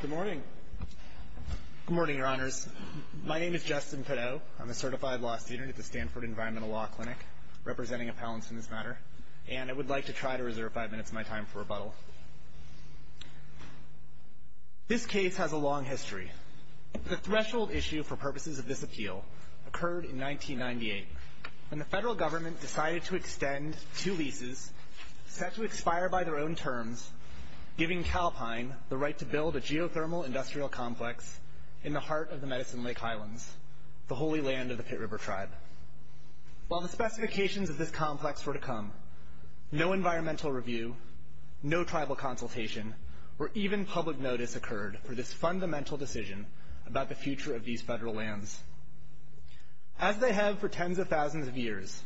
Good morning. Good morning, Your Honors. My name is Justin Pideaux. I'm a certified law student at the Stanford Environmental Law Clinic, representing appellants in this matter, and I would like to try to reserve five minutes of my time for rebuttal. This case has a long history. The threshold issue for purposes of this appeal occurred in 1998, when the federal government decided to extend two leases set to expire by their own terms, giving Calpine the right to build a geothermal industrial complex in the heart of the Medicine Lake Highlands, the Holy Land of the Pit River Tribe. While the specifications of this complex were to come, no environmental review, no tribal consultation, or even public notice occurred for this fundamental decision about the future of these federal lands. As they have for tens of thousands of years,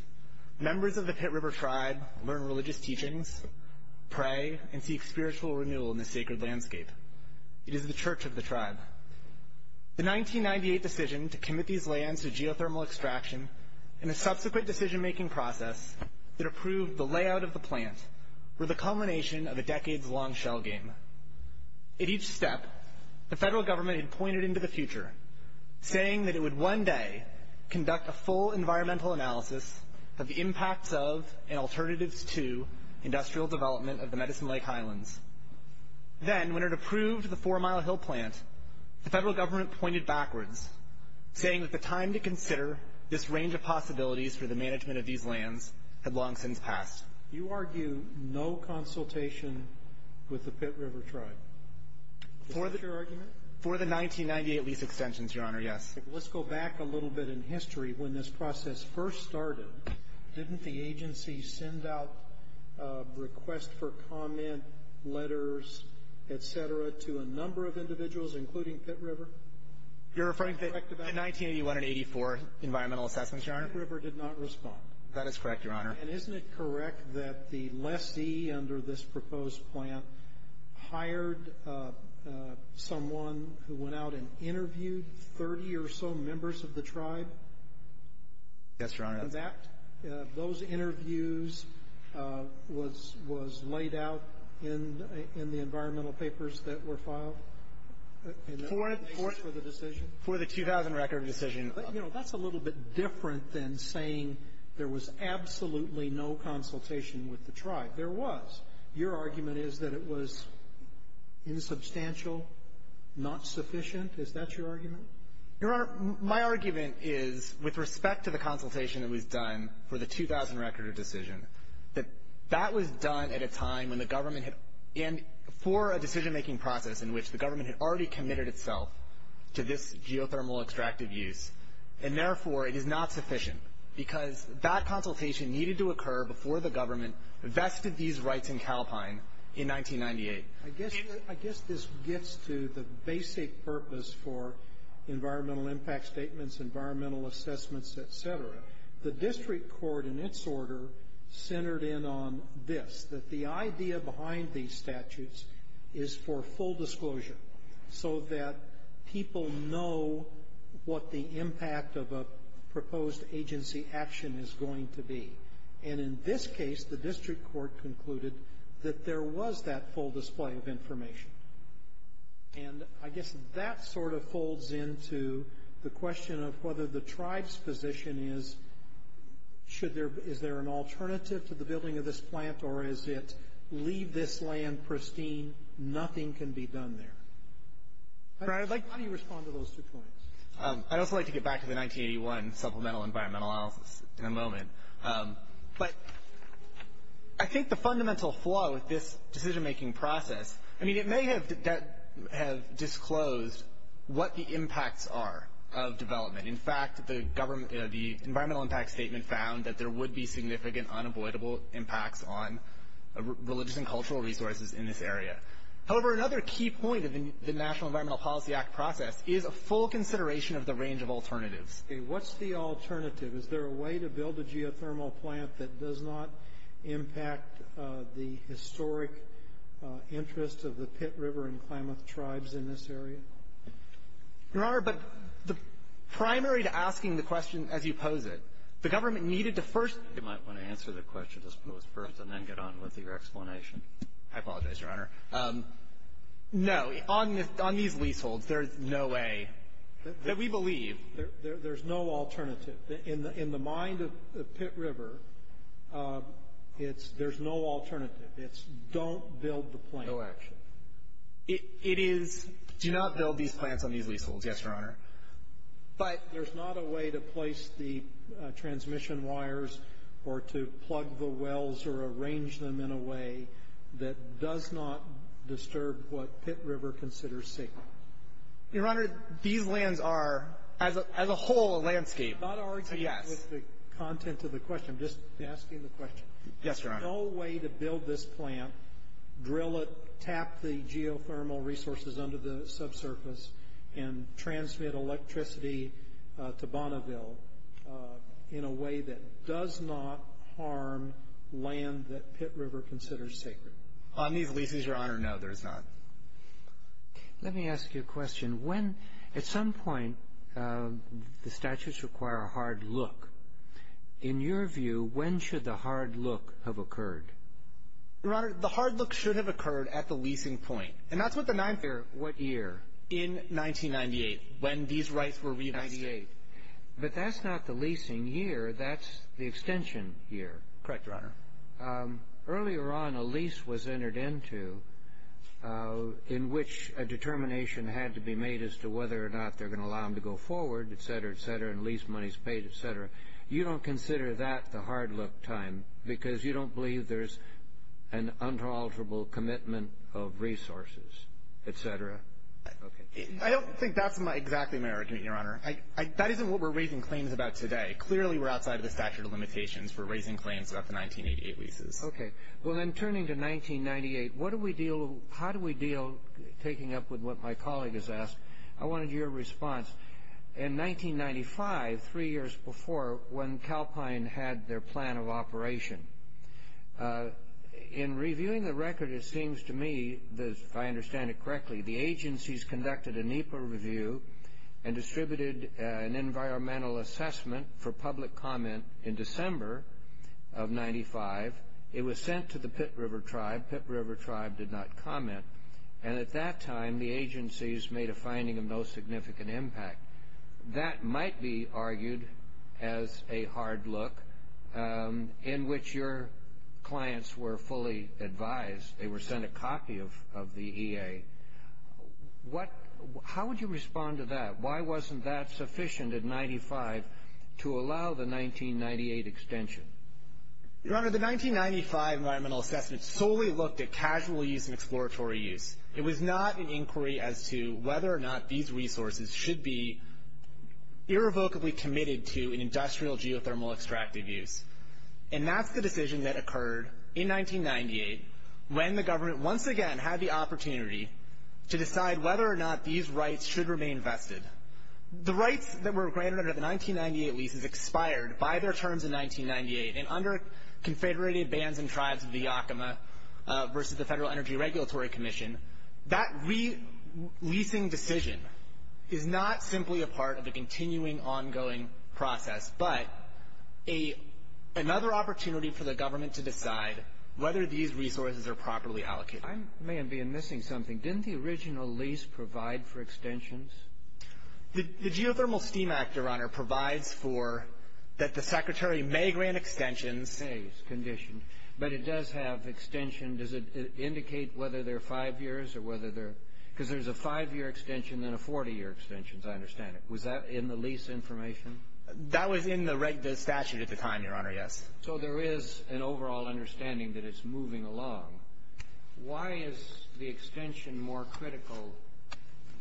members of the Pit River Tribe learn religious teachings, pray, and seek spiritual renewal in the sacred landscape. It is the church of the tribe. The 1998 decision to commit these lands to geothermal extraction and the subsequent decision-making process that approved the layout of the plant were the culmination of a decades-long shell game. At each step, the federal government had pointed into the future, saying that it would one day conduct a full environmental analysis of the impacts of and alternatives to industrial development of the Medicine Lake Highlands. Then, when it approved the Four Mile Hill plant, the federal government pointed backwards, saying that the time to consider this range of possibilities for the management of these lands had long since passed. You argue no consultation with the Pit River Tribe. Is that your argument? For the 1998 lease extensions, Your Honor, yes. Let's go back a little bit in history. When this process first started, didn't the agency send out a request for comment, letters, et cetera, to a number of individuals, including Pit River? You're referring to the 1981 and 1984 environmental assessments, Your Honor? The Pit River did not respond. That is correct, Your Honor. And isn't it correct that the lessee under this proposed plant hired someone who went out and interviewed 30 or so members of the tribe? Yes, Your Honor. For the decision? For the 2000 record of decision. You know, that's a little bit different than saying there was absolutely no consultation with the tribe. There was. Your argument is that it was insubstantial, not sufficient. Is that your argument? Your Honor, my argument is, with respect to the consultation that was done for the 2000 record of decision, that that was done at a time when the government had — and for a decision-making process in which the government had already committed itself to this geothermal extractive use, and therefore it is not sufficient, because that consultation needed to occur before the government vested these rights in Calpine in 1998. I guess this gets to the basic purpose for environmental impact statements, environmental assessments, et cetera. The district court, in its order, centered in on this, that the is for full disclosure, so that people know what the impact of a proposed agency action is going to be. And in this case, the district court concluded that there was that full display of information. And I guess that sort of folds into the question of whether the tribe's position is, is there an alternative to the building of this plant, or is it leave this land pristine, nothing can be done there? How do you respond to those two points? I'd also like to get back to the 1981 supplemental environmental analysis in a moment. But I think the fundamental flaw with this decision-making process, I mean, it may have disclosed what the impacts are of development. In fact, the environmental impact statement found that there would be significant unavoidable impacts on religious and cultural resources in this area. However, another key point of the National Environmental Policy Act process is a full consideration of the range of alternatives. What's the alternative? Is there a way to build a geothermal plant that does not impact the historic interest of the Pitt River and Klamath tribes in this area? Your Honor, but the primary to asking the question as you pose it, the government needed to first answer the question as posed first, and then get on with your explanation. I apologize, Your Honor. No, on these leaseholds, there's no way that we believe. There's no alternative. In the mind of Pitt River, there's no alternative. It's don't build the plant. No action. It is, do not build these plants on these leaseholds, yes, Your Honor. But there's not a way to place the transmission wires or to plug the wells or arrange them in a way that does not disturb what Pitt River considers safe. Your Honor, these lands are, as a whole, a landscape. I'm not arguing with the content of the question. I'm just asking the question. Yes, Your Honor. There's no way to build this plant, drill it, tap the geothermal resources under the electricity to Bonneville in a way that does not harm land that Pitt River considers sacred. On these leases, Your Honor, no, there's not. Let me ask you a question. When, at some point, the statutes require a hard look. In your view, when should the hard look have occurred? Your Honor, the hard look should have occurred at the leasing point. And that's what the ninth year, what year? In 1998. When these rights were reinvested. 1998. But that's not the leasing year. That's the extension year. Correct, Your Honor. Earlier on, a lease was entered into in which a determination had to be made as to whether or not they're going to allow them to go forward, et cetera, et cetera, and lease money is paid, et cetera. You don't consider that the hard look time because you don't believe there's an unalterable commitment of resources, et cetera? Okay. I don't think that's exactly my argument, Your Honor. That isn't what we're raising claims about today. Clearly, we're outside of the statute of limitations. We're raising claims about the 1988 leases. Okay. Well, then, turning to 1998, how do we deal, taking up with what my colleague has asked, I wanted your response. In 1995, three years before, when Calpine had their plan of operation, in reviewing the record, it seems to me, if I understand it correctly, the agencies conducted a NEPA review and distributed an environmental assessment for public comment in December of 1995. It was sent to the Pitt River Tribe. Pitt River Tribe did not comment. And at that time, the agencies made a finding of no significant impact. That might be argued as a hard look in which your clients were fully advised. They were sent a copy of the EA. How would you respond to that? Why wasn't that sufficient in 1995 to allow the 1998 extension? Your Honor, the 1995 environmental assessment solely looked at casual use and exploratory use. It was not an inquiry as to whether or not these resources should be irrevocably committed to an industrial geothermal extractive use. And that's the decision that occurred in 1998 when the government once again had the opportunity to decide whether or not these rights should remain vested. The rights that were granted under the 1998 leases expired by their terms in 1998. And under confederated bands and tribes of the Yakima versus the Federal Energy Regulatory Commission, that leasing decision is not simply a part of the continuing ongoing process, but another opportunity for the government to decide whether these resources are properly allocated. I may have been missing something. Didn't the original lease provide for extensions? The Geothermal Steam Act, Your Honor, provides for that the Secretary may grant extensions. May, it's conditioned. But it does have extension. Does it indicate whether they're five years or whether they're – because there's a five-year extension and a 40-year extension, as I understand it. Was that in the lease information? That was in the statute at the time, Your Honor, yes. So there is an overall understanding that it's moving along. Why is the extension more critical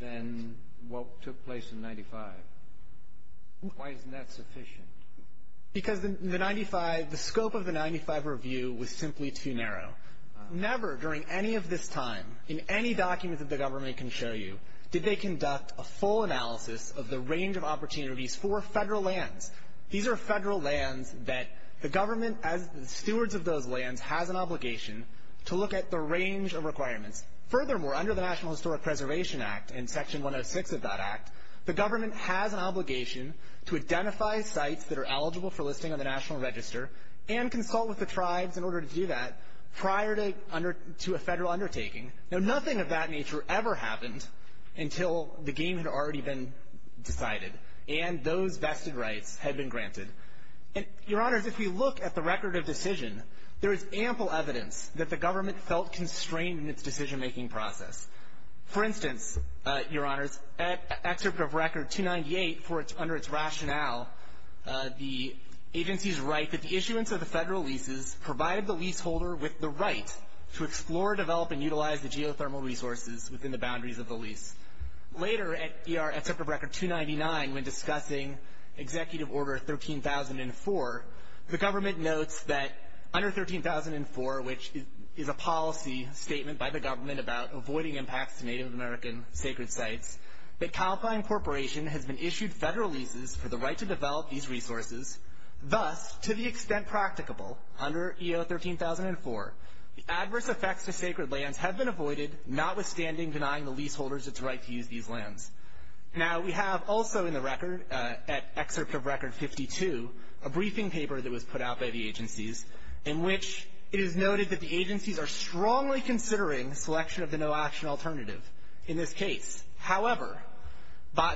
than what took place in 1995? Why isn't that sufficient? Because the scope of the 1995 review was simply too narrow. Never during any of this time in any document that the government can show you did they conduct a full analysis of the range of opportunities for Federal lands. These are Federal lands that the government, as stewards of those lands, has an obligation to look at the range of requirements. Furthermore, under the National Historic Preservation Act and Section 106 of that act, the government has an obligation to identify sites that are eligible for listing on the National Register and consult with the tribes in order to do that prior to a Federal undertaking. Now, nothing of that nature ever happened until the game had already been decided. And those vested rights had been granted. And, Your Honors, if we look at the record of decision, there is ample evidence that the government felt constrained in its decision-making process. For instance, Your Honors, at Excerpt of Record 298, under its rationale, the agencies write that the issuance of the Federal leases provided the leaseholder with the right to explore, develop, and utilize the geothermal resources within the boundaries of the lease. Later, at Excerpt of Record 299, when discussing Executive Order 13,004, the government notes that under 13,004, which is a policy statement by the government about avoiding impacts to Native American sacred sites, that Calpine Corporation has been issued Federal leases for the right to develop these resources. Thus, to the extent practicable under EO 13,004, adverse effects to sacred lands have been avoided, notwithstanding denying the leaseholders its right to use these lands. Now, we have also in the record, at Excerpt of Record 52, a briefing paper that was put out by the agencies in which it is noted that the agencies are strongly considering selection of the no-action alternative in this case. However,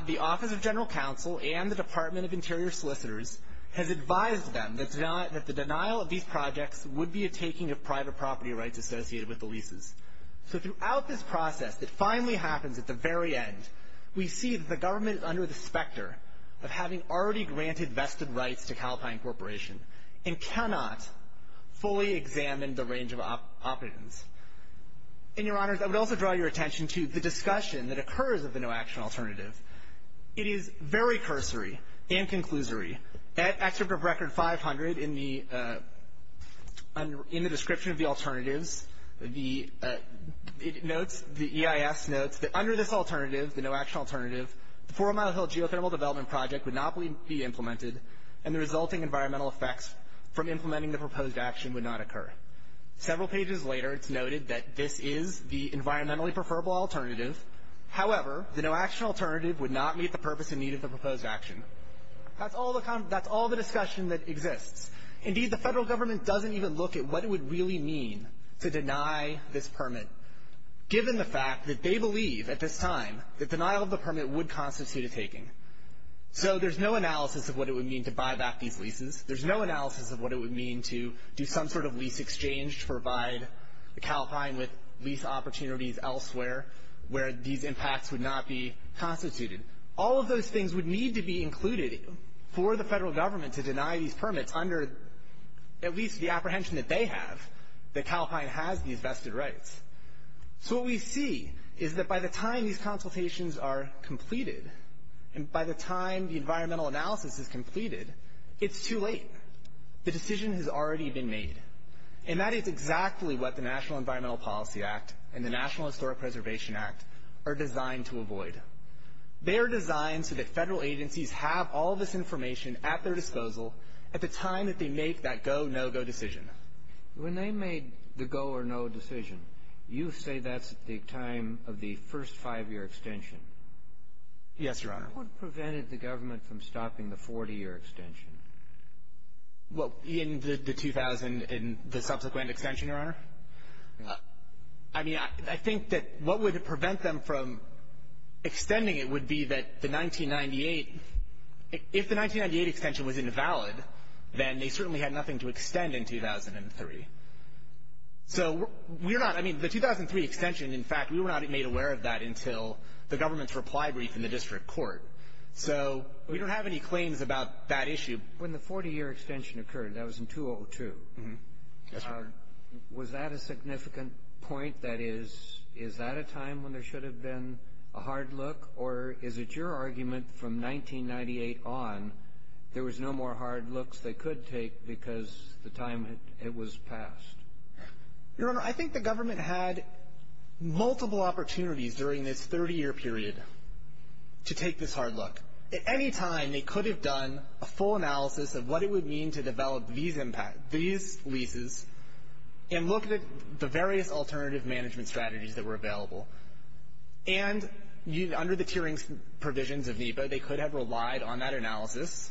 the Office of General Counsel and the Department of Interior solicitors has advised them that the denial of these projects would be a taking of private property rights associated with the leases. So throughout this process, it finally happens at the very end, we see that the government is under the specter of having already granted vested rights to Calpine Corporation and cannot fully examine the range of options. And, Your Honors, I would also draw your attention to the discussion that occurs of the no-action alternative. It is very cursory and conclusory. At Excerpt of Record 500, in the description of the alternatives, the EIS notes that under this alternative, the no-action alternative, the Four Mile Hill geothermal development project would not be implemented and the resulting environmental effects from implementing the proposed action would not occur. Several pages later, it's noted that this is the environmentally preferable alternative. However, the no-action alternative would not meet the purpose and need of the proposed action. That's all the discussion that exists. Indeed, the federal government doesn't even look at what it would really mean to deny this permit, given the fact that they believe at this time that denial of the permit would constitute a taking. So there's no analysis of what it would mean to buy back these leases. There's no analysis of what it would mean to do some sort of lease exchange to provide Calpine with lease opportunities elsewhere where these impacts would not be constituted. All of those things would need to be included for the federal government to deny these permits under at least the apprehension that they have, that Calpine has these vested rights. So what we see is that by the time these consultations are completed and by the time the environmental analysis is completed, it's too late. The decision has already been made. And that is exactly what the National Environmental Policy Act and the National Historic Preservation Act are designed to avoid. They are designed so that federal agencies have all this information at their disposal at the time that they make that go, no-go decision. When they made the go-or-no decision, you say that's at the time of the first five-year extension. Yes, Your Honor. What prevented the government from stopping the 40-year extension? I mean, I think that what would prevent them from extending it would be that the 1998 If the 1998 extension was invalid, then they certainly had nothing to extend in 2003. So we're not – I mean, the 2003 extension, in fact, we were not made aware of that until the government's reply brief in the district court. So we don't have any claims about that issue. When the 40-year extension occurred, that was in 2002. Was that a significant point? That is, is that a time when there should have been a hard look? Or is it your argument from 1998 on there was no more hard looks they could take because the time it was passed? Your Honor, I think the government had multiple opportunities during this 30-year period to take this hard look. At any time, they could have done a full analysis of what it would mean to develop these leases and look at the various alternative management strategies that were available. And under the tiering provisions of NEPA, they could have relied on that analysis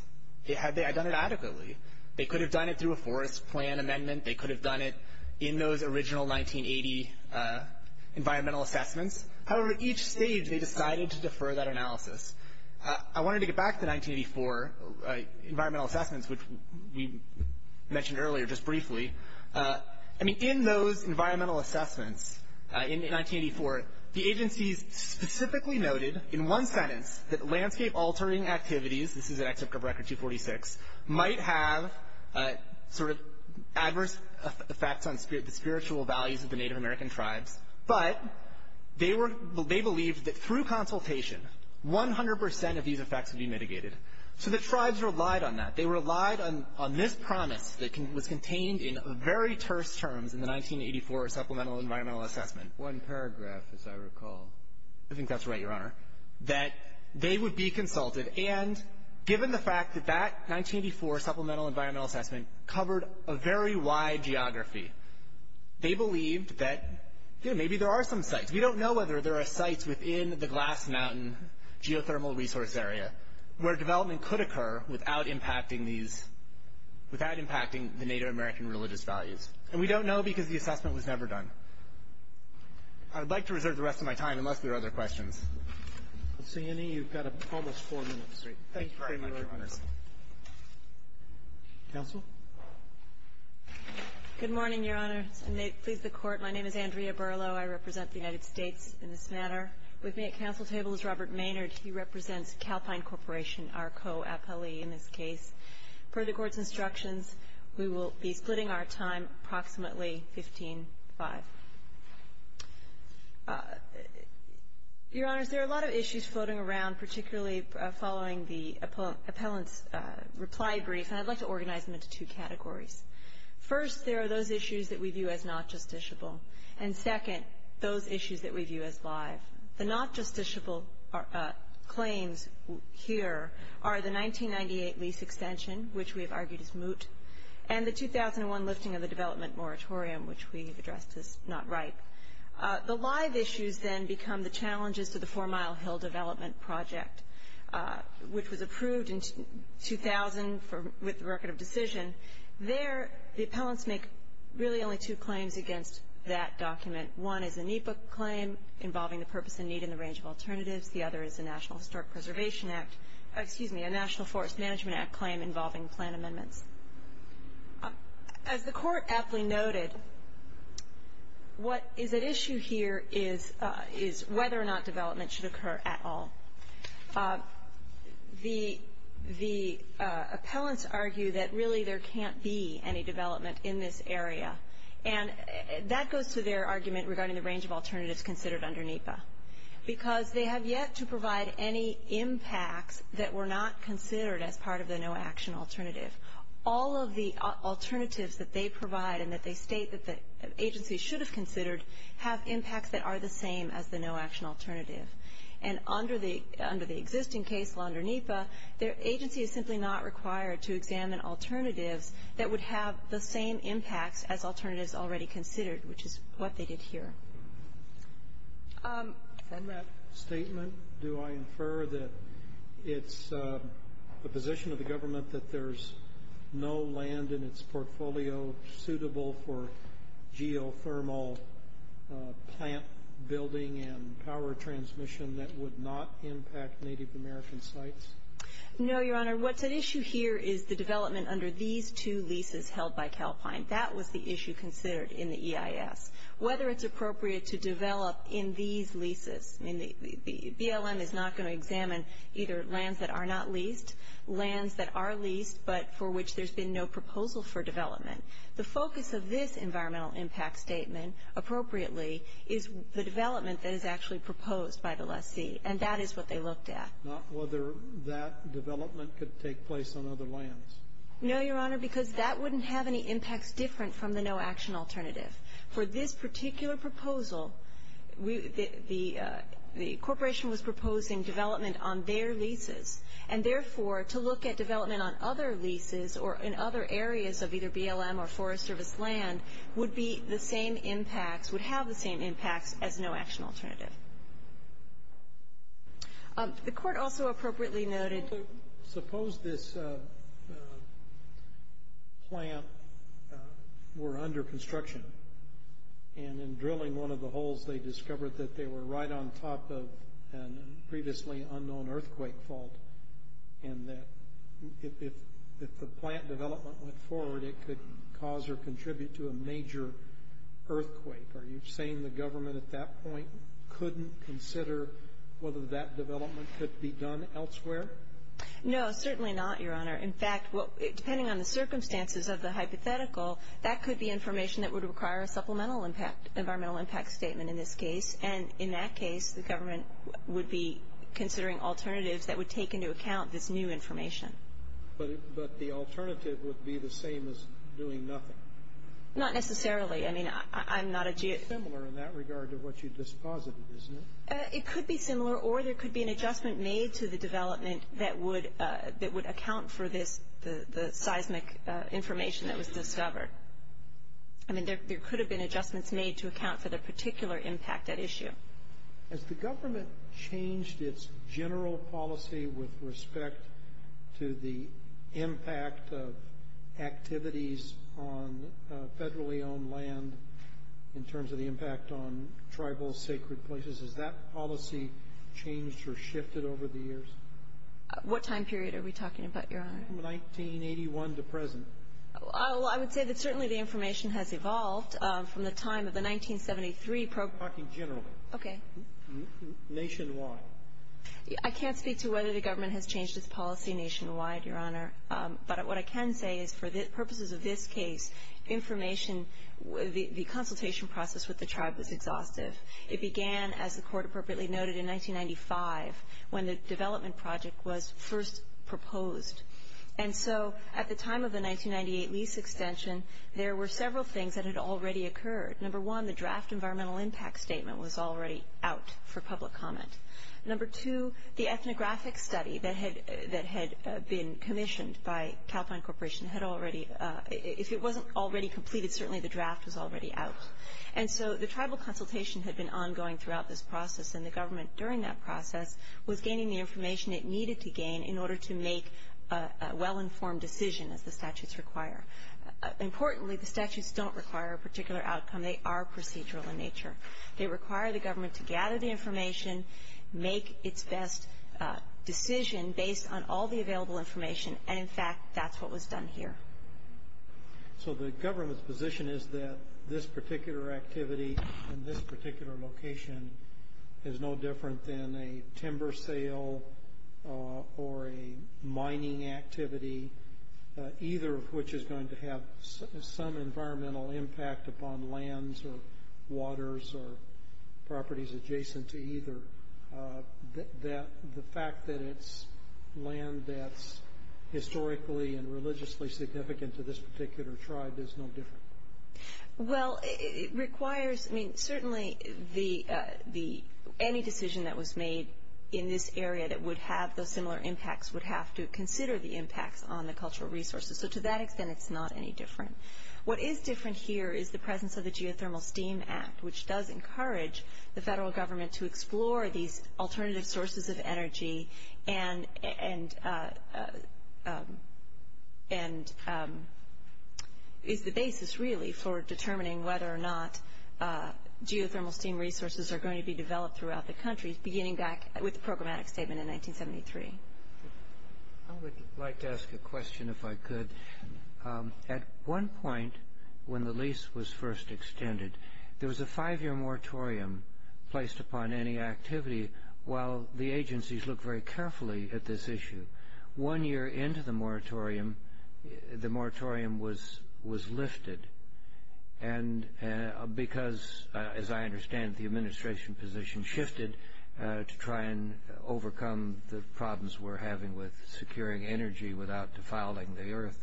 had they done it adequately. They could have done it through a forest plan amendment. They could have done it in those original 1980 environmental assessments. However, at each stage, they decided to defer that analysis. I wanted to get back to the 1984 environmental assessments, which we mentioned earlier just briefly. I mean, in those environmental assessments in 1984, the agencies specifically noted in one sentence that landscape-altering activities, this is an excerpt from Record 246, might have sort of adverse effects on the spiritual values of the Native American tribes, but they believed that through consultation, 100 percent of these effects would be mitigated. So the tribes relied on that. They relied on this promise that was contained in very terse terms in the 1984 Supplemental Environmental Assessment. One paragraph, as I recall. I think that's right, Your Honor, that they would be consulted. And given the fact that that 1984 Supplemental Environmental Assessment covered a very wide geography, they believed that, you know, maybe there are some sites. We don't know whether there are sites within the Glass Mountain geothermal resource area where development could occur without impacting the Native American religious values. And we don't know because the assessment was never done. I would like to reserve the rest of my time unless there are other questions. I don't see any. You've got almost four minutes. Thank you very much, Your Honors. Counsel? Good morning, Your Honors, and may it please the Court. My name is Andrea Berlow. I represent the United States in this matter. With me at counsel's table is Robert Maynard. He represents Calpine Corporation, our co-appellee in this case. Per the Court's instructions, we will be splitting our time approximately 15-5. Your Honors, there are a lot of issues floating around, particularly following the appellant's reply brief, and I'd like to organize them into two categories. First, there are those issues that we view as not justiciable. And second, those issues that we view as live. The not justiciable claims here are the 1998 lease extension, which we have argued is moot, and the 2001 lifting of the development moratorium, which we have addressed as not right. The live issues then become the challenges to the Four Mile Hill development project, which was approved in 2000 with the record of decision. There, the appellants make really only two claims against that document. One is a NEPA claim involving the purpose and need in the range of alternatives. The other is a National Forest Management Act claim involving plan amendments. As the Court aptly noted, what is at issue here is whether or not development should occur at all. The appellants argue that really there can't be any development in this area, and that goes to their argument regarding the range of alternatives considered under NEPA, because they have yet to provide any impacts that were not considered as part of the no-action alternative. All of the alternatives that they provide and that they state that the agency should have considered have impacts that are the same as the no-action alternative. And under the existing case law under NEPA, the agency is simply not required to examine alternatives that would have the same impacts as alternatives already considered, which is what they did here. And that statement, do I infer that it's the position of the government that there's no land in its portfolio suitable for geothermal plant building and power transmission that would not impact Native American sites? No, Your Honor. What's at issue here is the development under these two leases held by Calpine. That was the issue considered in the EIS. Whether it's appropriate to develop in these leases. BLM is not going to examine either lands that are not leased, lands that are leased, but for which there's been no proposal for development. The focus of this environmental impact statement, appropriately, is the development that is actually proposed by the lessee, and that is what they looked at. Not whether that development could take place on other lands. No, Your Honor, because that wouldn't have any impacts different from the no-action alternative. For this particular proposal, the corporation was proposing development on their leases, and, therefore, to look at development on other leases or in other areas of either BLM or Forest Service land would be the same impacts, would have the same impacts as no-action alternative. The Court also appropriately noted. Suppose this plant were under construction, and in drilling one of the holes they discovered that they were right on top of a previously unknown earthquake fault, and that if the plant development went forward, it could cause or contribute to a major earthquake. Are you saying the government at that point couldn't consider whether that development could be done elsewhere? No, certainly not, Your Honor. In fact, depending on the circumstances of the hypothetical, that could be information that would require a supplemental environmental impact statement in this case, and in that case, the government would be considering alternatives that would take into account this new information. But the alternative would be the same as doing nothing. Not necessarily. I mean, I'm not a geo... It's similar in that regard to what you just posited, isn't it? It could be similar, or there could be an adjustment made to the development that would account for the seismic information that was discovered. I mean, there could have been adjustments made to account for the particular impact at issue. Has the government changed its general policy with respect to the impact of activities on federally owned land in terms of the impact on tribal sacred places? Has that policy changed or shifted over the years? What time period are we talking about, Your Honor? From 1981 to present. Well, I would say that certainly the information has evolved from the time of the 1973 program. I'm talking generally. Okay. Nationwide. I can't speak to whether the government has changed its policy nationwide, Your Honor. But what I can say is for purposes of this case, information, the consultation process with the tribe was exhaustive. It began, as the Court appropriately noted, in 1995 when the development project was first proposed. And so at the time of the 1998 lease extension, there were several things that had already occurred. Number one, the draft environmental impact statement was already out for public comment. Number two, the ethnographic study that had been commissioned by Calpine Corporation had already, if it wasn't already completed, certainly the draft was already out. And so the tribal consultation had been ongoing throughout this process, and the government during that process was gaining the information it needed to gain in order to make a well-informed decision, as the statutes require. Importantly, the statutes don't require a particular outcome. They are procedural in nature. They require the government to gather the information, make its best decision based on all the available information. And, in fact, that's what was done here. So the government's position is that this particular activity and this particular location is no different than a timber sale or a mining activity, either of which is going to have some environmental impact upon lands or waters or properties adjacent to either. The fact that it's land that's historically and religiously significant to this particular tribe is no different. Well, it requires, I mean, certainly any decision that was made in this area that would have those similar impacts would have to consider the impacts on the cultural resources. So to that extent, it's not any different. What is different here is the presence of the Geothermal Steam Act, which does encourage the federal government to explore these alternative sources of energy and is the basis, really, for determining whether or not geothermal steam resources are going to be developed throughout the country, beginning back with the programmatic statement in 1973. I would like to ask a question, if I could. At one point, when the lease was first extended, there was a five-year moratorium placed upon any activity. While the agencies looked very carefully at this issue, one year into the moratorium, the moratorium was lifted because, as I understand it, the administration position shifted to try and overcome the problems we're having with securing energy without defiling the earth.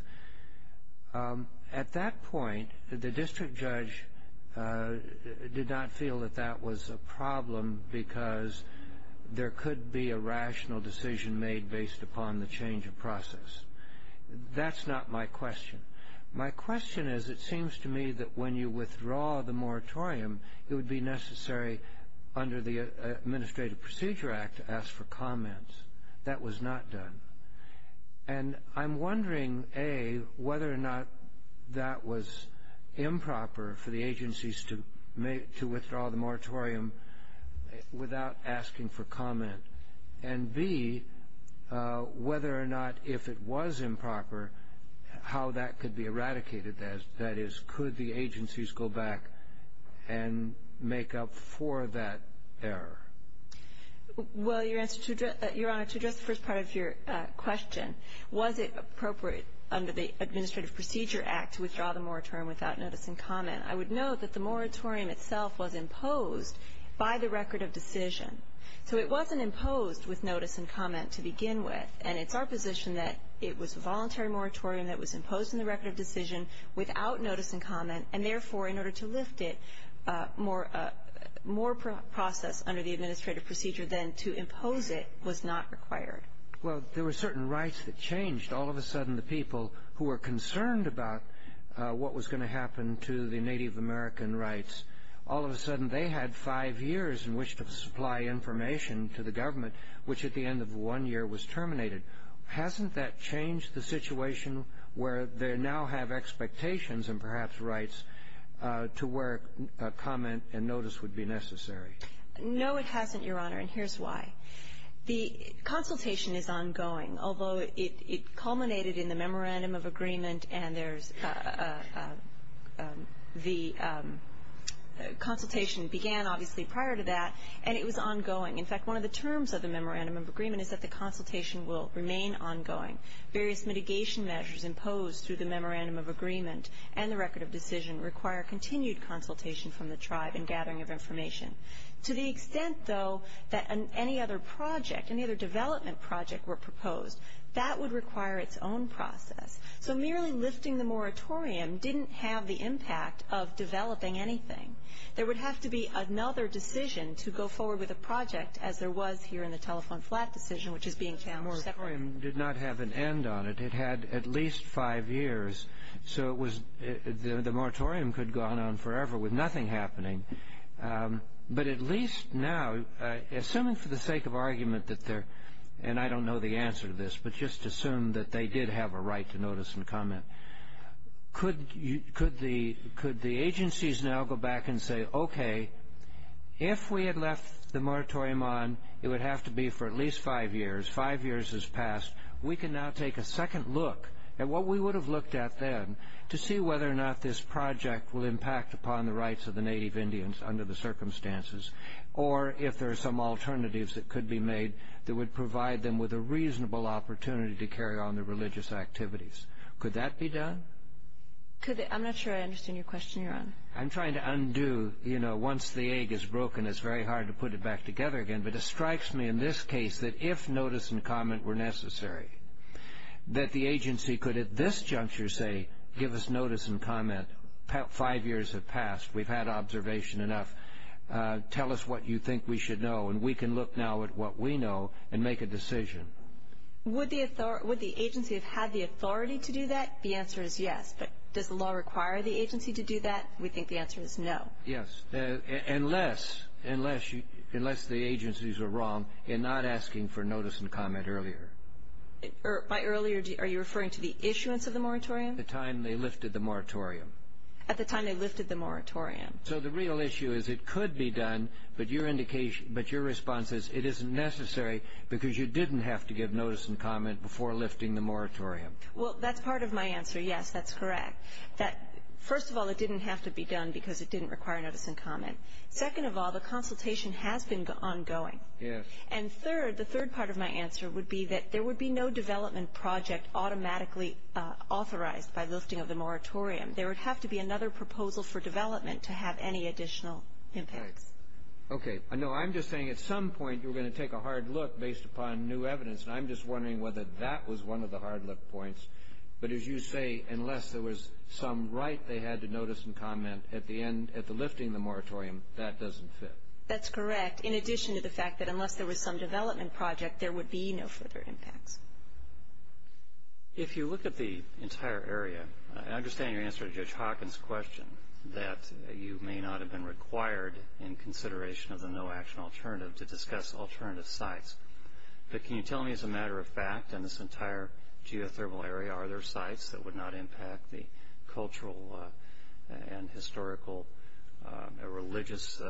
At that point, the district judge did not feel that that was a problem because there could be a rational decision made based upon the change of process. That's not my question. My question is, it seems to me that when you withdraw the moratorium, it would be necessary under the Administrative Procedure Act to ask for comments. That was not done. And I'm wondering, A, whether or not that was improper for the agencies to withdraw the moratorium without asking for comment, and, B, whether or not, if it was improper, how that could be eradicated. That is, could the agencies go back and make up for that error? Well, Your Honor, to address the first part of your question, was it appropriate under the Administrative Procedure Act to withdraw the moratorium without notice and comment? I would note that the moratorium itself was imposed by the record of decision. So it wasn't imposed with notice and comment to begin with, and it's our position that it was a voluntary moratorium that was imposed in the record of decision without notice and comment, and, therefore, in order to lift it, more process under the Administrative Procedure than to impose it was not required. Well, there were certain rights that changed. All of a sudden the people who were concerned about what was going to happen to the Native American rights, all of a sudden they had five years in which to supply information to the government, which at the end of one year was terminated. Hasn't that changed the situation where they now have expectations and perhaps rights to where comment and notice would be necessary? No, it hasn't, Your Honor, and here's why. The consultation is ongoing, although it culminated in the memorandum of agreement and there's the consultation began, obviously, prior to that, and it was ongoing. In fact, one of the terms of the memorandum of agreement is that the consultation will remain ongoing. Various mitigation measures imposed through the memorandum of agreement and the record of decision require continued consultation from the tribe and gathering of information. To the extent, though, that any other project, any other development project were proposed, that would require its own process. So merely lifting the moratorium didn't have the impact of developing anything. There would have to be another decision to go forward with a project, as there was here in the telephone flat decision, which is being challenged separately. The moratorium did not have an end on it. It had at least five years, so the moratorium could go on forever with nothing happening. But at least now, assuming for the sake of argument that there, and I don't know the answer to this, but just assume that they did have a right to notice and comment, could the agencies now go back and say, okay, if we had left the moratorium on, it would have to be for at least five years, five years has passed, we can now take a second look at what we would have looked at then to see whether or not this project will impact upon the rights of the native Indians under the circumstances, or if there are some alternatives that could be made that would provide them with a reasonable opportunity to carry on their religious activities. Could that be done? I'm not sure I understand your question, Your Honor. I'm trying to undo, you know, once the egg is broken, it's very hard to put it back together again, but it strikes me in this case that if notice and comment were necessary, that the agency could at this juncture say, give us notice and comment, five years have passed, we've had observation enough, tell us what you think we should know, and we can look now at what we know and make a decision. Would the agency have had the authority to do that? The answer is yes. But does the law require the agency to do that? We think the answer is no. Yes, unless the agencies are wrong in not asking for notice and comment earlier. By earlier, are you referring to the issuance of the moratorium? The time they lifted the moratorium. At the time they lifted the moratorium. So the real issue is it could be done, but your response is it isn't necessary because you didn't have to give notice and comment before lifting the moratorium. Well, that's part of my answer, yes, that's correct. First of all, it didn't have to be done because it didn't require notice and comment. Second of all, the consultation has been ongoing. Yes. And third, the third part of my answer would be that there would be no development project automatically authorized by lifting of the moratorium. There would have to be another proposal for development to have any additional impacts. Okay. No, I'm just saying at some point you were going to take a hard look based upon new evidence, and I'm just wondering whether that was one of the hard look points. But as you say, unless there was some right they had to notice and comment at the end, at the lifting of the moratorium, that doesn't fit. That's correct, in addition to the fact that unless there was some development project, there would be no further impacts. If you look at the entire area, I understand your answer to Judge Hawkins' question that you may not have been required in consideration of the no-action alternative to discuss alternative sites. But can you tell me, as a matter of fact, in this entire geothermal area, are there sites that would not impact the cultural and historical or religious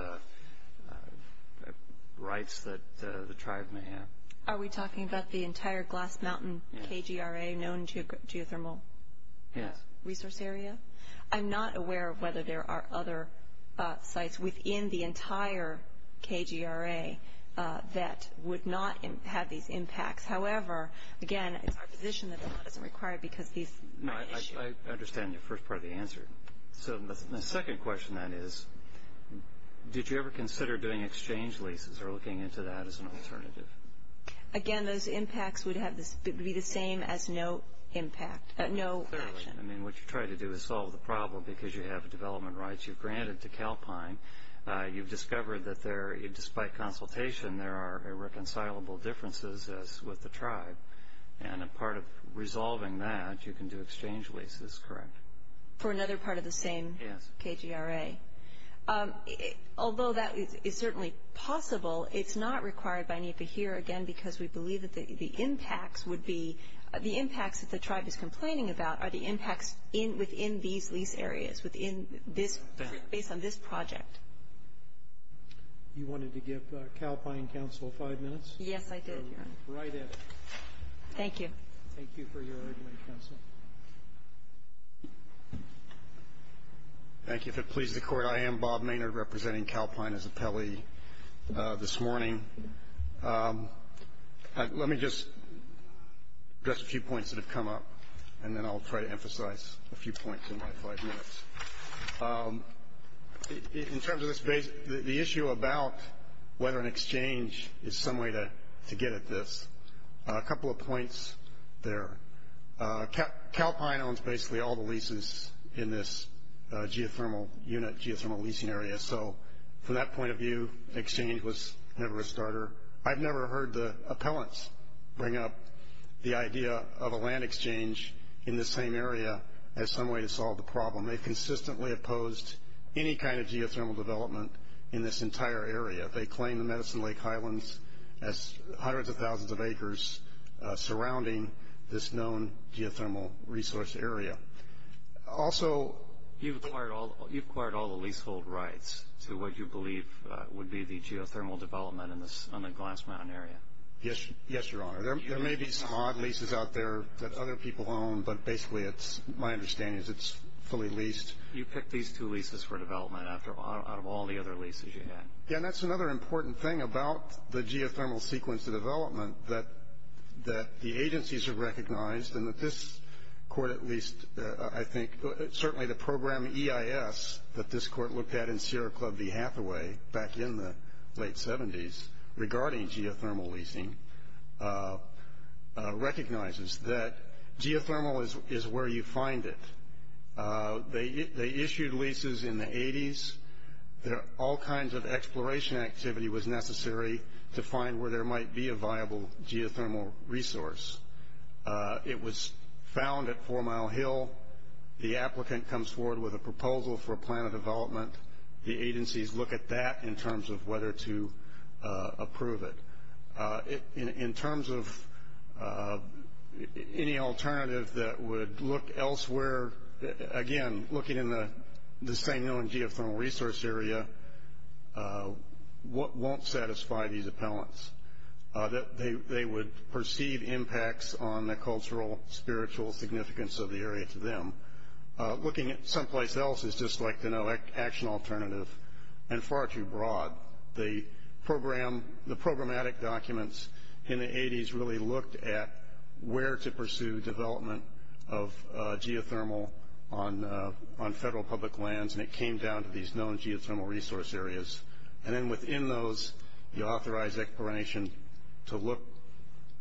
rights that the tribe may have? Are we talking about the entire Glass Mountain KGRA known geothermal resource area? Yes. I'm not aware of whether there are other sites within the entire KGRA that would not have these impacts. However, again, it's our position that it doesn't require it because these are issues. I understand your first part of the answer. So the second question then is, did you ever consider doing exchange leases or looking into that as an alternative? Again, those impacts would be the same as no action. I mean, what you try to do is solve the problem because you have development rights. You've granted to Calpine. You've discovered that there, despite consultation, there are irreconcilable differences with the tribe. And a part of resolving that, you can do exchange leases, correct? For another part of the same KGRA. Yes. Although that is certainly possible, it's not required by NEPA here, again, because we believe that the impacts that the tribe is complaining about are the impacts within these lease areas, based on this project. You wanted to give Calpine Council five minutes? Yes, I did, Your Honor. Right at it. Thank you. Thank you for your argument, Counsel. Thank you. If it pleases the Court, I am Bob Maynard, representing Calpine as appellee this morning. Let me just address a few points that have come up, and then I'll try to emphasize a few points in my five minutes. In terms of the issue about whether an exchange is some way to get at this, a couple of points there. Calpine owns basically all the leases in this geothermal unit, geothermal leasing area. So from that point of view, exchange was never a starter. I've never heard the appellants bring up the idea of a land exchange in the same area as some way to solve the problem. They've consistently opposed any kind of geothermal development in this entire area. They claim the Medicine Lake Highlands as hundreds of thousands of acres surrounding this known geothermal resource area. Also you've acquired all the leasehold rights to what you believe would be the geothermal development on the Glass Mountain area. Yes, Your Honor. There may be some odd leases out there that other people own, but basically my understanding is it's fully leased. You picked these two leases for development out of all the other leases you had. Yeah, and that's another important thing about the geothermal sequence of development that the agencies have recognized and that this court at least I think certainly the program EIS that this court looked at in Sierra Club v. Hathaway back in the late 70s regarding geothermal leasing recognizes that geothermal is where you find it. They issued leases in the 80s. All kinds of exploration activity was necessary to find where there might be a viable geothermal resource. It was found at Four Mile Hill. The applicant comes forward with a proposal for a plan of development. The agencies look at that in terms of whether to approve it. In terms of any alternative that would look elsewhere, again, looking in the St. Neil and geothermal resource area, won't satisfy these appellants. They would perceive impacts on the cultural, spiritual significance of the area to them. Looking at someplace else is just like the no action alternative and far too broad. The programmatic documents in the 80s really looked at where to pursue development of geothermal on federal public lands, and it came down to these known geothermal resource areas. And then within those you authorize exploration to look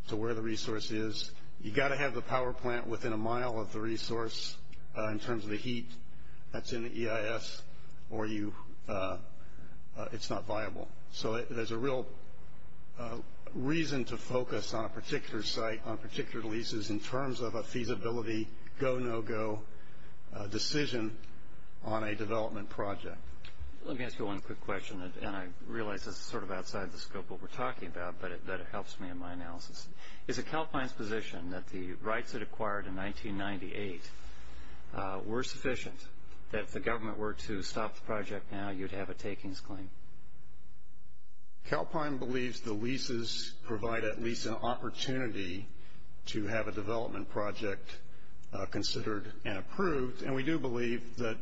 to where the resource is. You've got to have the power plant within a mile of the resource in terms of the heat that's in the EIS, or it's not viable. So there's a real reason to focus on a particular site, on particular leases, in terms of a feasibility go-no-go decision on a development project. Let me ask you one quick question, and I realize this is sort of outside the scope of what we're talking about, but it helps me in my analysis. Is it Calpine's position that the rights it acquired in 1998 were sufficient, that if the government were to stop the project now you'd have a takings claim? Calpine believes the leases provide at least an opportunity to have a development project considered and approved, and we do believe that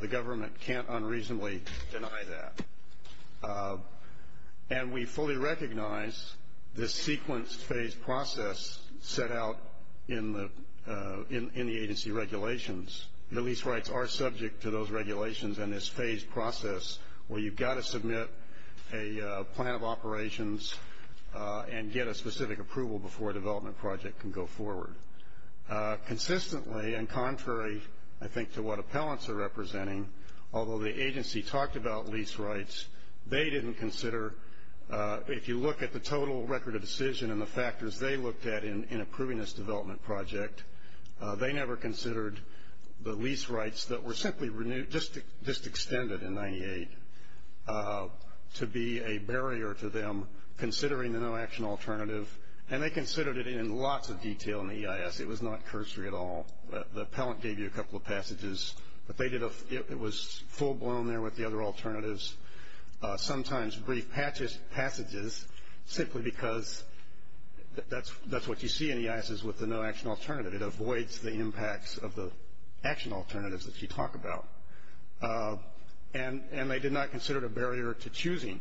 the government can't unreasonably deny that. And we fully recognize this sequenced phased process set out in the agency regulations. The lease rights are subject to those regulations and this phased process where you've got to submit a plan of operations and get a specific approval before a development project can go forward. Consistently and contrary, I think, to what appellants are representing, although the agency talked about lease rights, they didn't consider, if you look at the total record of decision and the factors they looked at in approving this development project, they never considered the lease rights that were simply renewed, just extended in 1998, to be a barrier to them considering the no-action alternative, and they considered it in lots of detail in the EIS. It was not cursory at all. The appellant gave you a couple of passages, but it was full-blown there with the other alternatives, sometimes brief passages simply because that's what you see in the EIS is with the no-action alternative. It avoids the impacts of the action alternatives that you talk about. And they did not consider it a barrier to choosing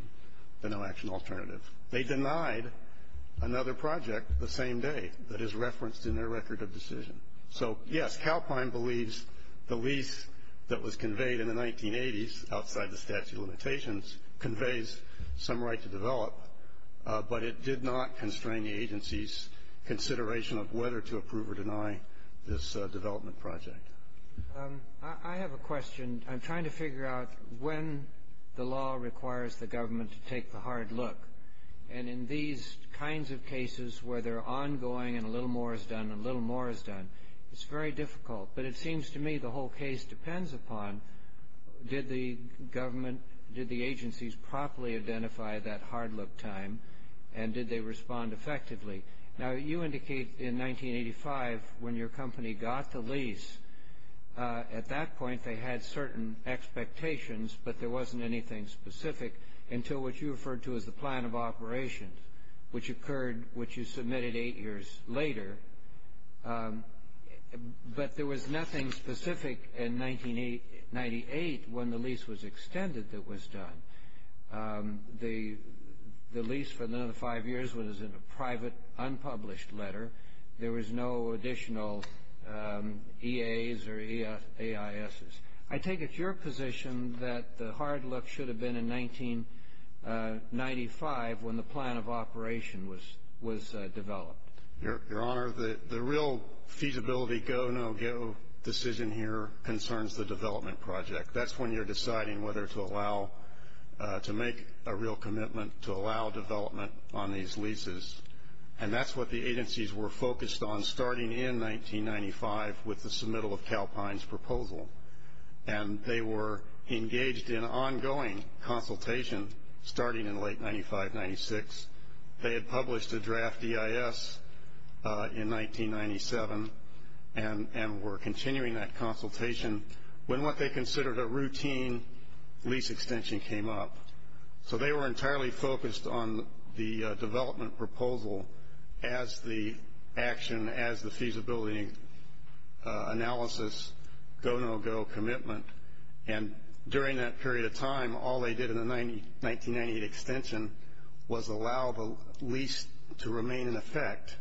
the no-action alternative. They denied another project the same day that is referenced in their record of decision. So, yes, Calpine believes the lease that was conveyed in the 1980s outside the statute of limitations conveys some right to develop, but it did not constrain the agency's consideration of whether to approve or deny this development project. I have a question. I'm trying to figure out when the law requires the government to take the hard look. And in these kinds of cases where they're ongoing and a little more is done and a little more is done, it's very difficult. But it seems to me the whole case depends upon did the government, did the agencies properly identify that hard look time and did they respond effectively? Now, you indicate in 1985 when your company got the lease, at that point they had certain expectations, but there wasn't anything specific until what you referred to as the plan of operations, which occurred, which you submitted eight years later. But there was nothing specific in 1998 when the lease was extended that was done. The lease for another five years was in a private, unpublished letter. There was no additional EAs or AISs. I take it your position that the hard look should have been in 1995 when the plan of operation was developed. Your Honor, the real feasibility go, no go decision here concerns the development project. That's when you're deciding whether to allow, to make a real commitment to allow development on these leases. And that's what the agencies were focused on starting in 1995 with the submittal of Calpine's proposal. And they were engaged in ongoing consultation starting in late 1995, 1996. They had published a draft EIS in 1997 and were continuing that consultation when what they considered a routine lease extension came up. So they were entirely focused on the development proposal as the action, as the feasibility analysis, go, no go commitment. And during that period of time, all they did in the 1998 extension was allow the lease to remain in effect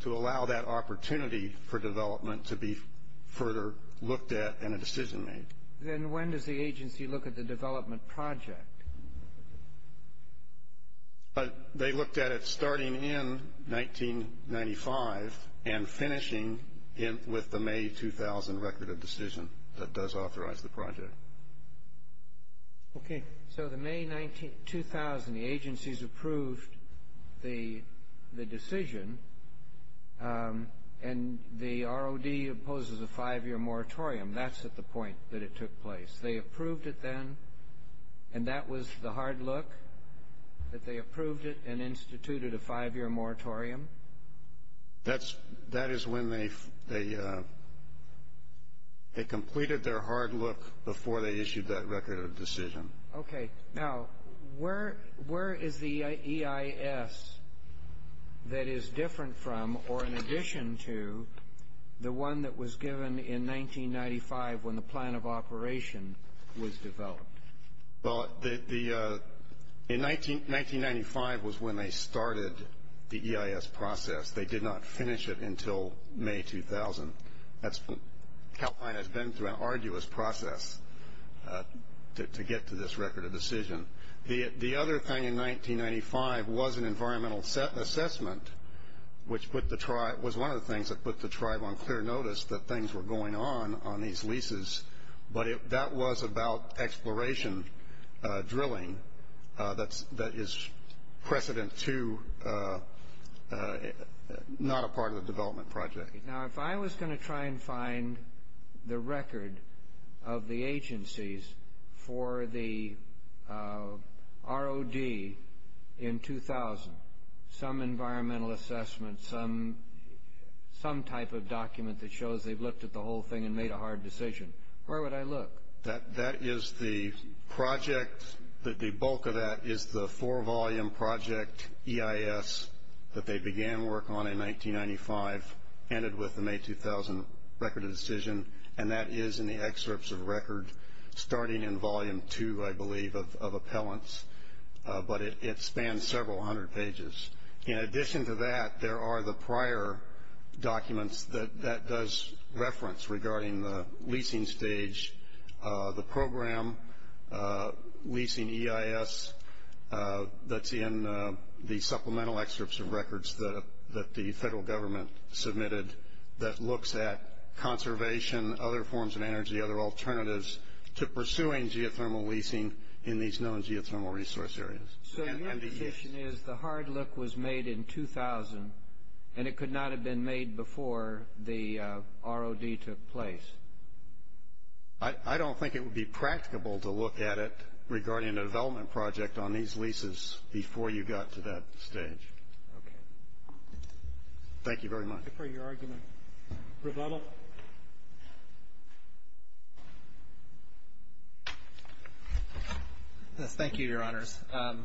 to allow that opportunity for development to be further looked at and a decision made. Then when does the agency look at the development project? They looked at it starting in 1995 and finishing with the May 2000 record of decision that does authorize the project. Okay. So the May 2000, the agencies approved the decision, and the ROD opposes a five-year moratorium. That's at the point that it took place. They approved it then, and that was the hard look, that they approved it and instituted a five-year moratorium. That is when they completed their hard look before they issued that record of decision. Okay. Now, where is the EIS that is different from or in addition to the one that was given in 1995 when the plan of operation was developed? Well, in 1995 was when they started the EIS process. They did not finish it until May 2000. California has been through an arduous process to get to this record of decision. The other thing in 1995 was an environmental assessment, which was one of the things that put the tribe on clear notice that things were going on on these leases, but that was about exploration drilling that is precedent to not a part of the development project. Now, if I was going to try and find the record of the agencies for the ROD in 2000, some environmental assessment, some type of document that shows they've looked at the whole thing and made a hard decision, where would I look? That is the project. The bulk of that is the four-volume project EIS that they began work on in 1995, ended with the May 2000 record of decision, and that is in the excerpts of record starting in volume two, I believe, of appellants. But it spans several hundred pages. In addition to that, there are the prior documents that that does reference regarding the leasing stage, the program, leasing EIS that's in the supplemental excerpts of records that the federal government submitted that looks at conservation, other forms of energy, other alternatives to pursuing geothermal leasing in these known geothermal resource areas. So your position is the hard look was made in 2000, and it could not have been made before the ROD took place? I don't think it would be practicable to look at it regarding a development project on these leases before you got to that stage. Okay. Thank you very much. Thank you for your argument. Rebuttal? Yes, thank you, Your Honors. I'm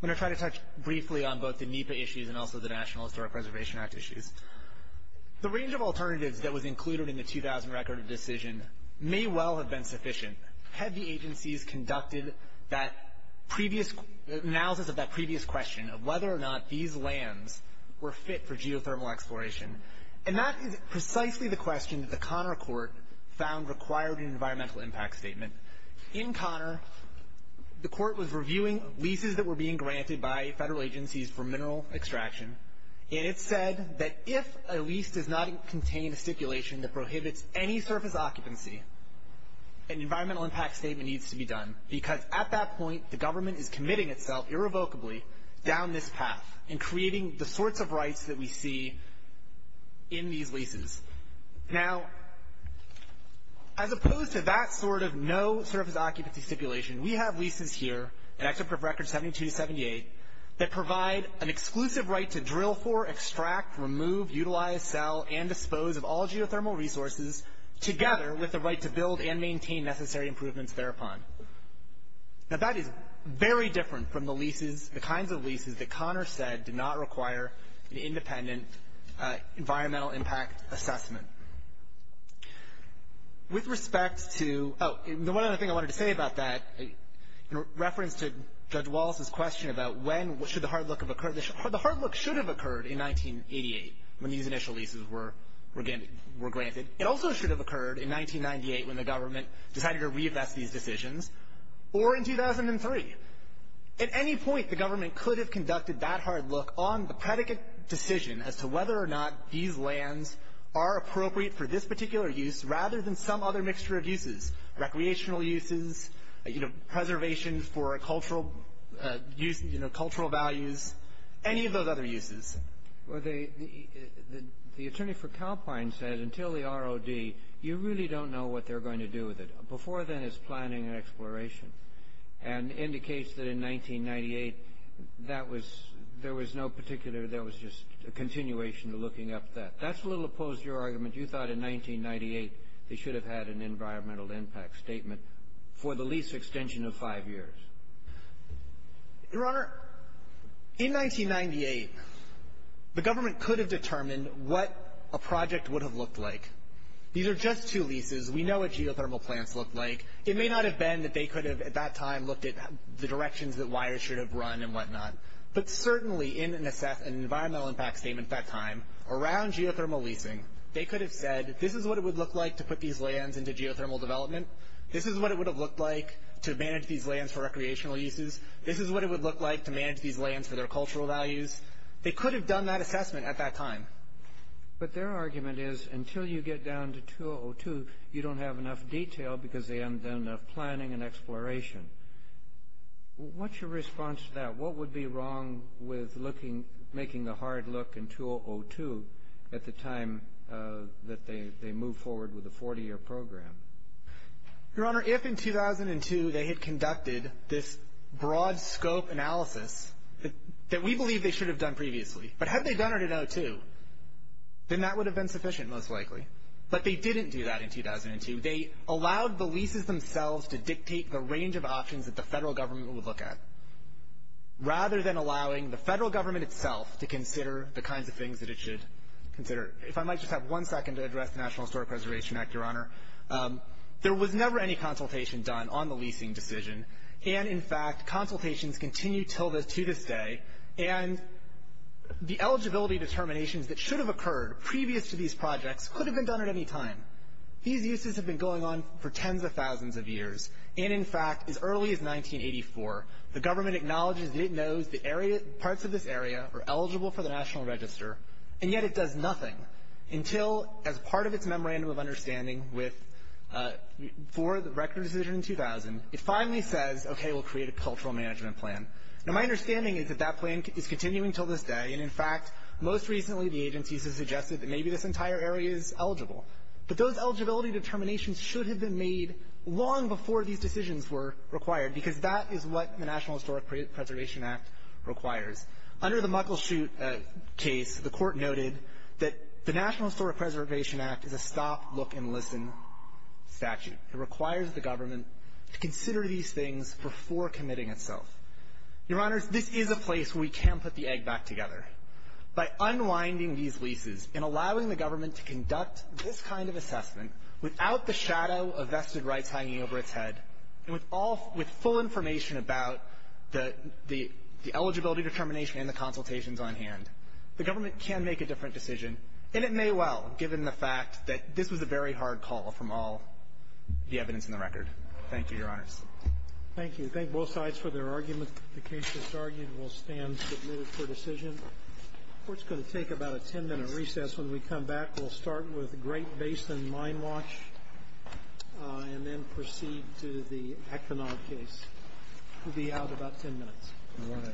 going to try to touch briefly on both the NEPA issues and also the National Historic Preservation Act issues. The range of alternatives that was included in the 2000 record of decision may well have been sufficient had the agencies conducted that analysis of that previous question of whether or not these lands were fit for geothermal exploration. And that is precisely the question that the Conner Court found required in an environmental impact statement. In Conner, the court was reviewing leases that were being granted by federal agencies for mineral extraction, and it said that if a lease does not contain a stipulation that prohibits any surface occupancy, an environmental impact statement needs to be done, because at that point the government is committing itself irrevocably down this path in creating the sorts of rights that we see in these leases. Now, as opposed to that sort of no surface occupancy stipulation, we have leases here in Actions for Records 72 to 78 that provide an exclusive right to drill for, extract, remove, utilize, sell, and dispose of all geothermal resources, together with the right to build and maintain necessary improvements thereupon. Now, that is very different from the leases, the kinds of leases, that Conner said did not require an independent environmental impact assessment. With respect to the one other thing I wanted to say about that, in reference to Judge Wallace's question about when should the hard look have occurred, the hard look should have occurred in 1988 when these initial leases were granted. It also should have occurred in 1998 when the government decided to reinvest these decisions, or in 2003. At any point, the government could have conducted that hard look on the predicate decision as to whether or not these lands are appropriate for this particular use rather than some other mixture of uses, recreational uses, you know, preservation for cultural use, you know, cultural values, any of those other uses. Well, the attorney for Calpine said until the ROD, you really don't know what they're going to do with it. Before then, it's planning and exploration, and indicates that in 1998, that was — there was no particular — there was just a continuation of looking up that. That's a little opposed to your argument. You thought in 1998 they should have had an environmental impact statement for the lease extension of five years. Your Honor, in 1998, the government could have determined what a project would have looked like. These are just two leases. We know what geothermal plants look like. It may not have been that they could have at that time looked at the directions that wires should have run and whatnot, but certainly in an environmental impact statement at that time around geothermal leasing, they could have said this is what it would look like to put these lands into geothermal development. This is what it would have looked like to manage these lands for recreational uses. This is what it would look like to manage these lands for their cultural values. They could have done that assessment at that time. But their argument is until you get down to 2002, you don't have enough detail because they haven't done enough planning and exploration. What's your response to that? What would be wrong with making the hard look in 2002 at the time that they moved forward with a 40-year program? Your Honor, if in 2002 they had conducted this broad scope analysis that we believe they should have done previously, but had they done it in 2002, then that would have been sufficient most likely. But they didn't do that in 2002. They allowed the leases themselves to dictate the range of options that the federal government would look at, rather than allowing the federal government itself to consider the kinds of things that it should consider. If I might just have one second to address the National Historic Preservation Act, Your Honor. There was never any consultation done on the leasing decision. And, in fact, consultations continue to this day. And the eligibility determinations that should have occurred previous to these projects could have been done at any time. These uses have been going on for tens of thousands of years. And, in fact, as early as 1984, the government acknowledges that it knows the parts of this area are eligible for the National Register, and yet it does nothing until, as part of its memorandum of understanding for the record decision in 2000, it finally says, okay, we'll create a cultural management plan. Now, my understanding is that that plan is continuing until this day. And, in fact, most recently the agencies have suggested that maybe this entire area is eligible. But those eligibility determinations should have been made long before these decisions were required, because that is what the National Historic Preservation Act requires. Under the Muckleshoot case, the Court noted that the National Historic Preservation Act is a stop, look, and listen statute. It requires the government to consider these things before committing itself. Your Honors, this is a place where we can put the egg back together. By unwinding these leases and allowing the government to conduct this kind of assessment without the shadow of vested rights hanging over its head, and with all of the full information about the eligibility determination and the consultations on hand, the government can make a different decision, and it may well, given the fact that this was a very hard call from all the evidence in the record. Thank you, Your Honors. Thank you. Thank both sides for their arguments. The case that's argued will stand submitted for decision. The Court's going to take about a 10-minute recess. When we come back, we'll start with Great Basin Mine Watch and then proceed to the Eknog case. We'll be out in about 10 minutes. All rise. This court is adjourned for 10 minutes.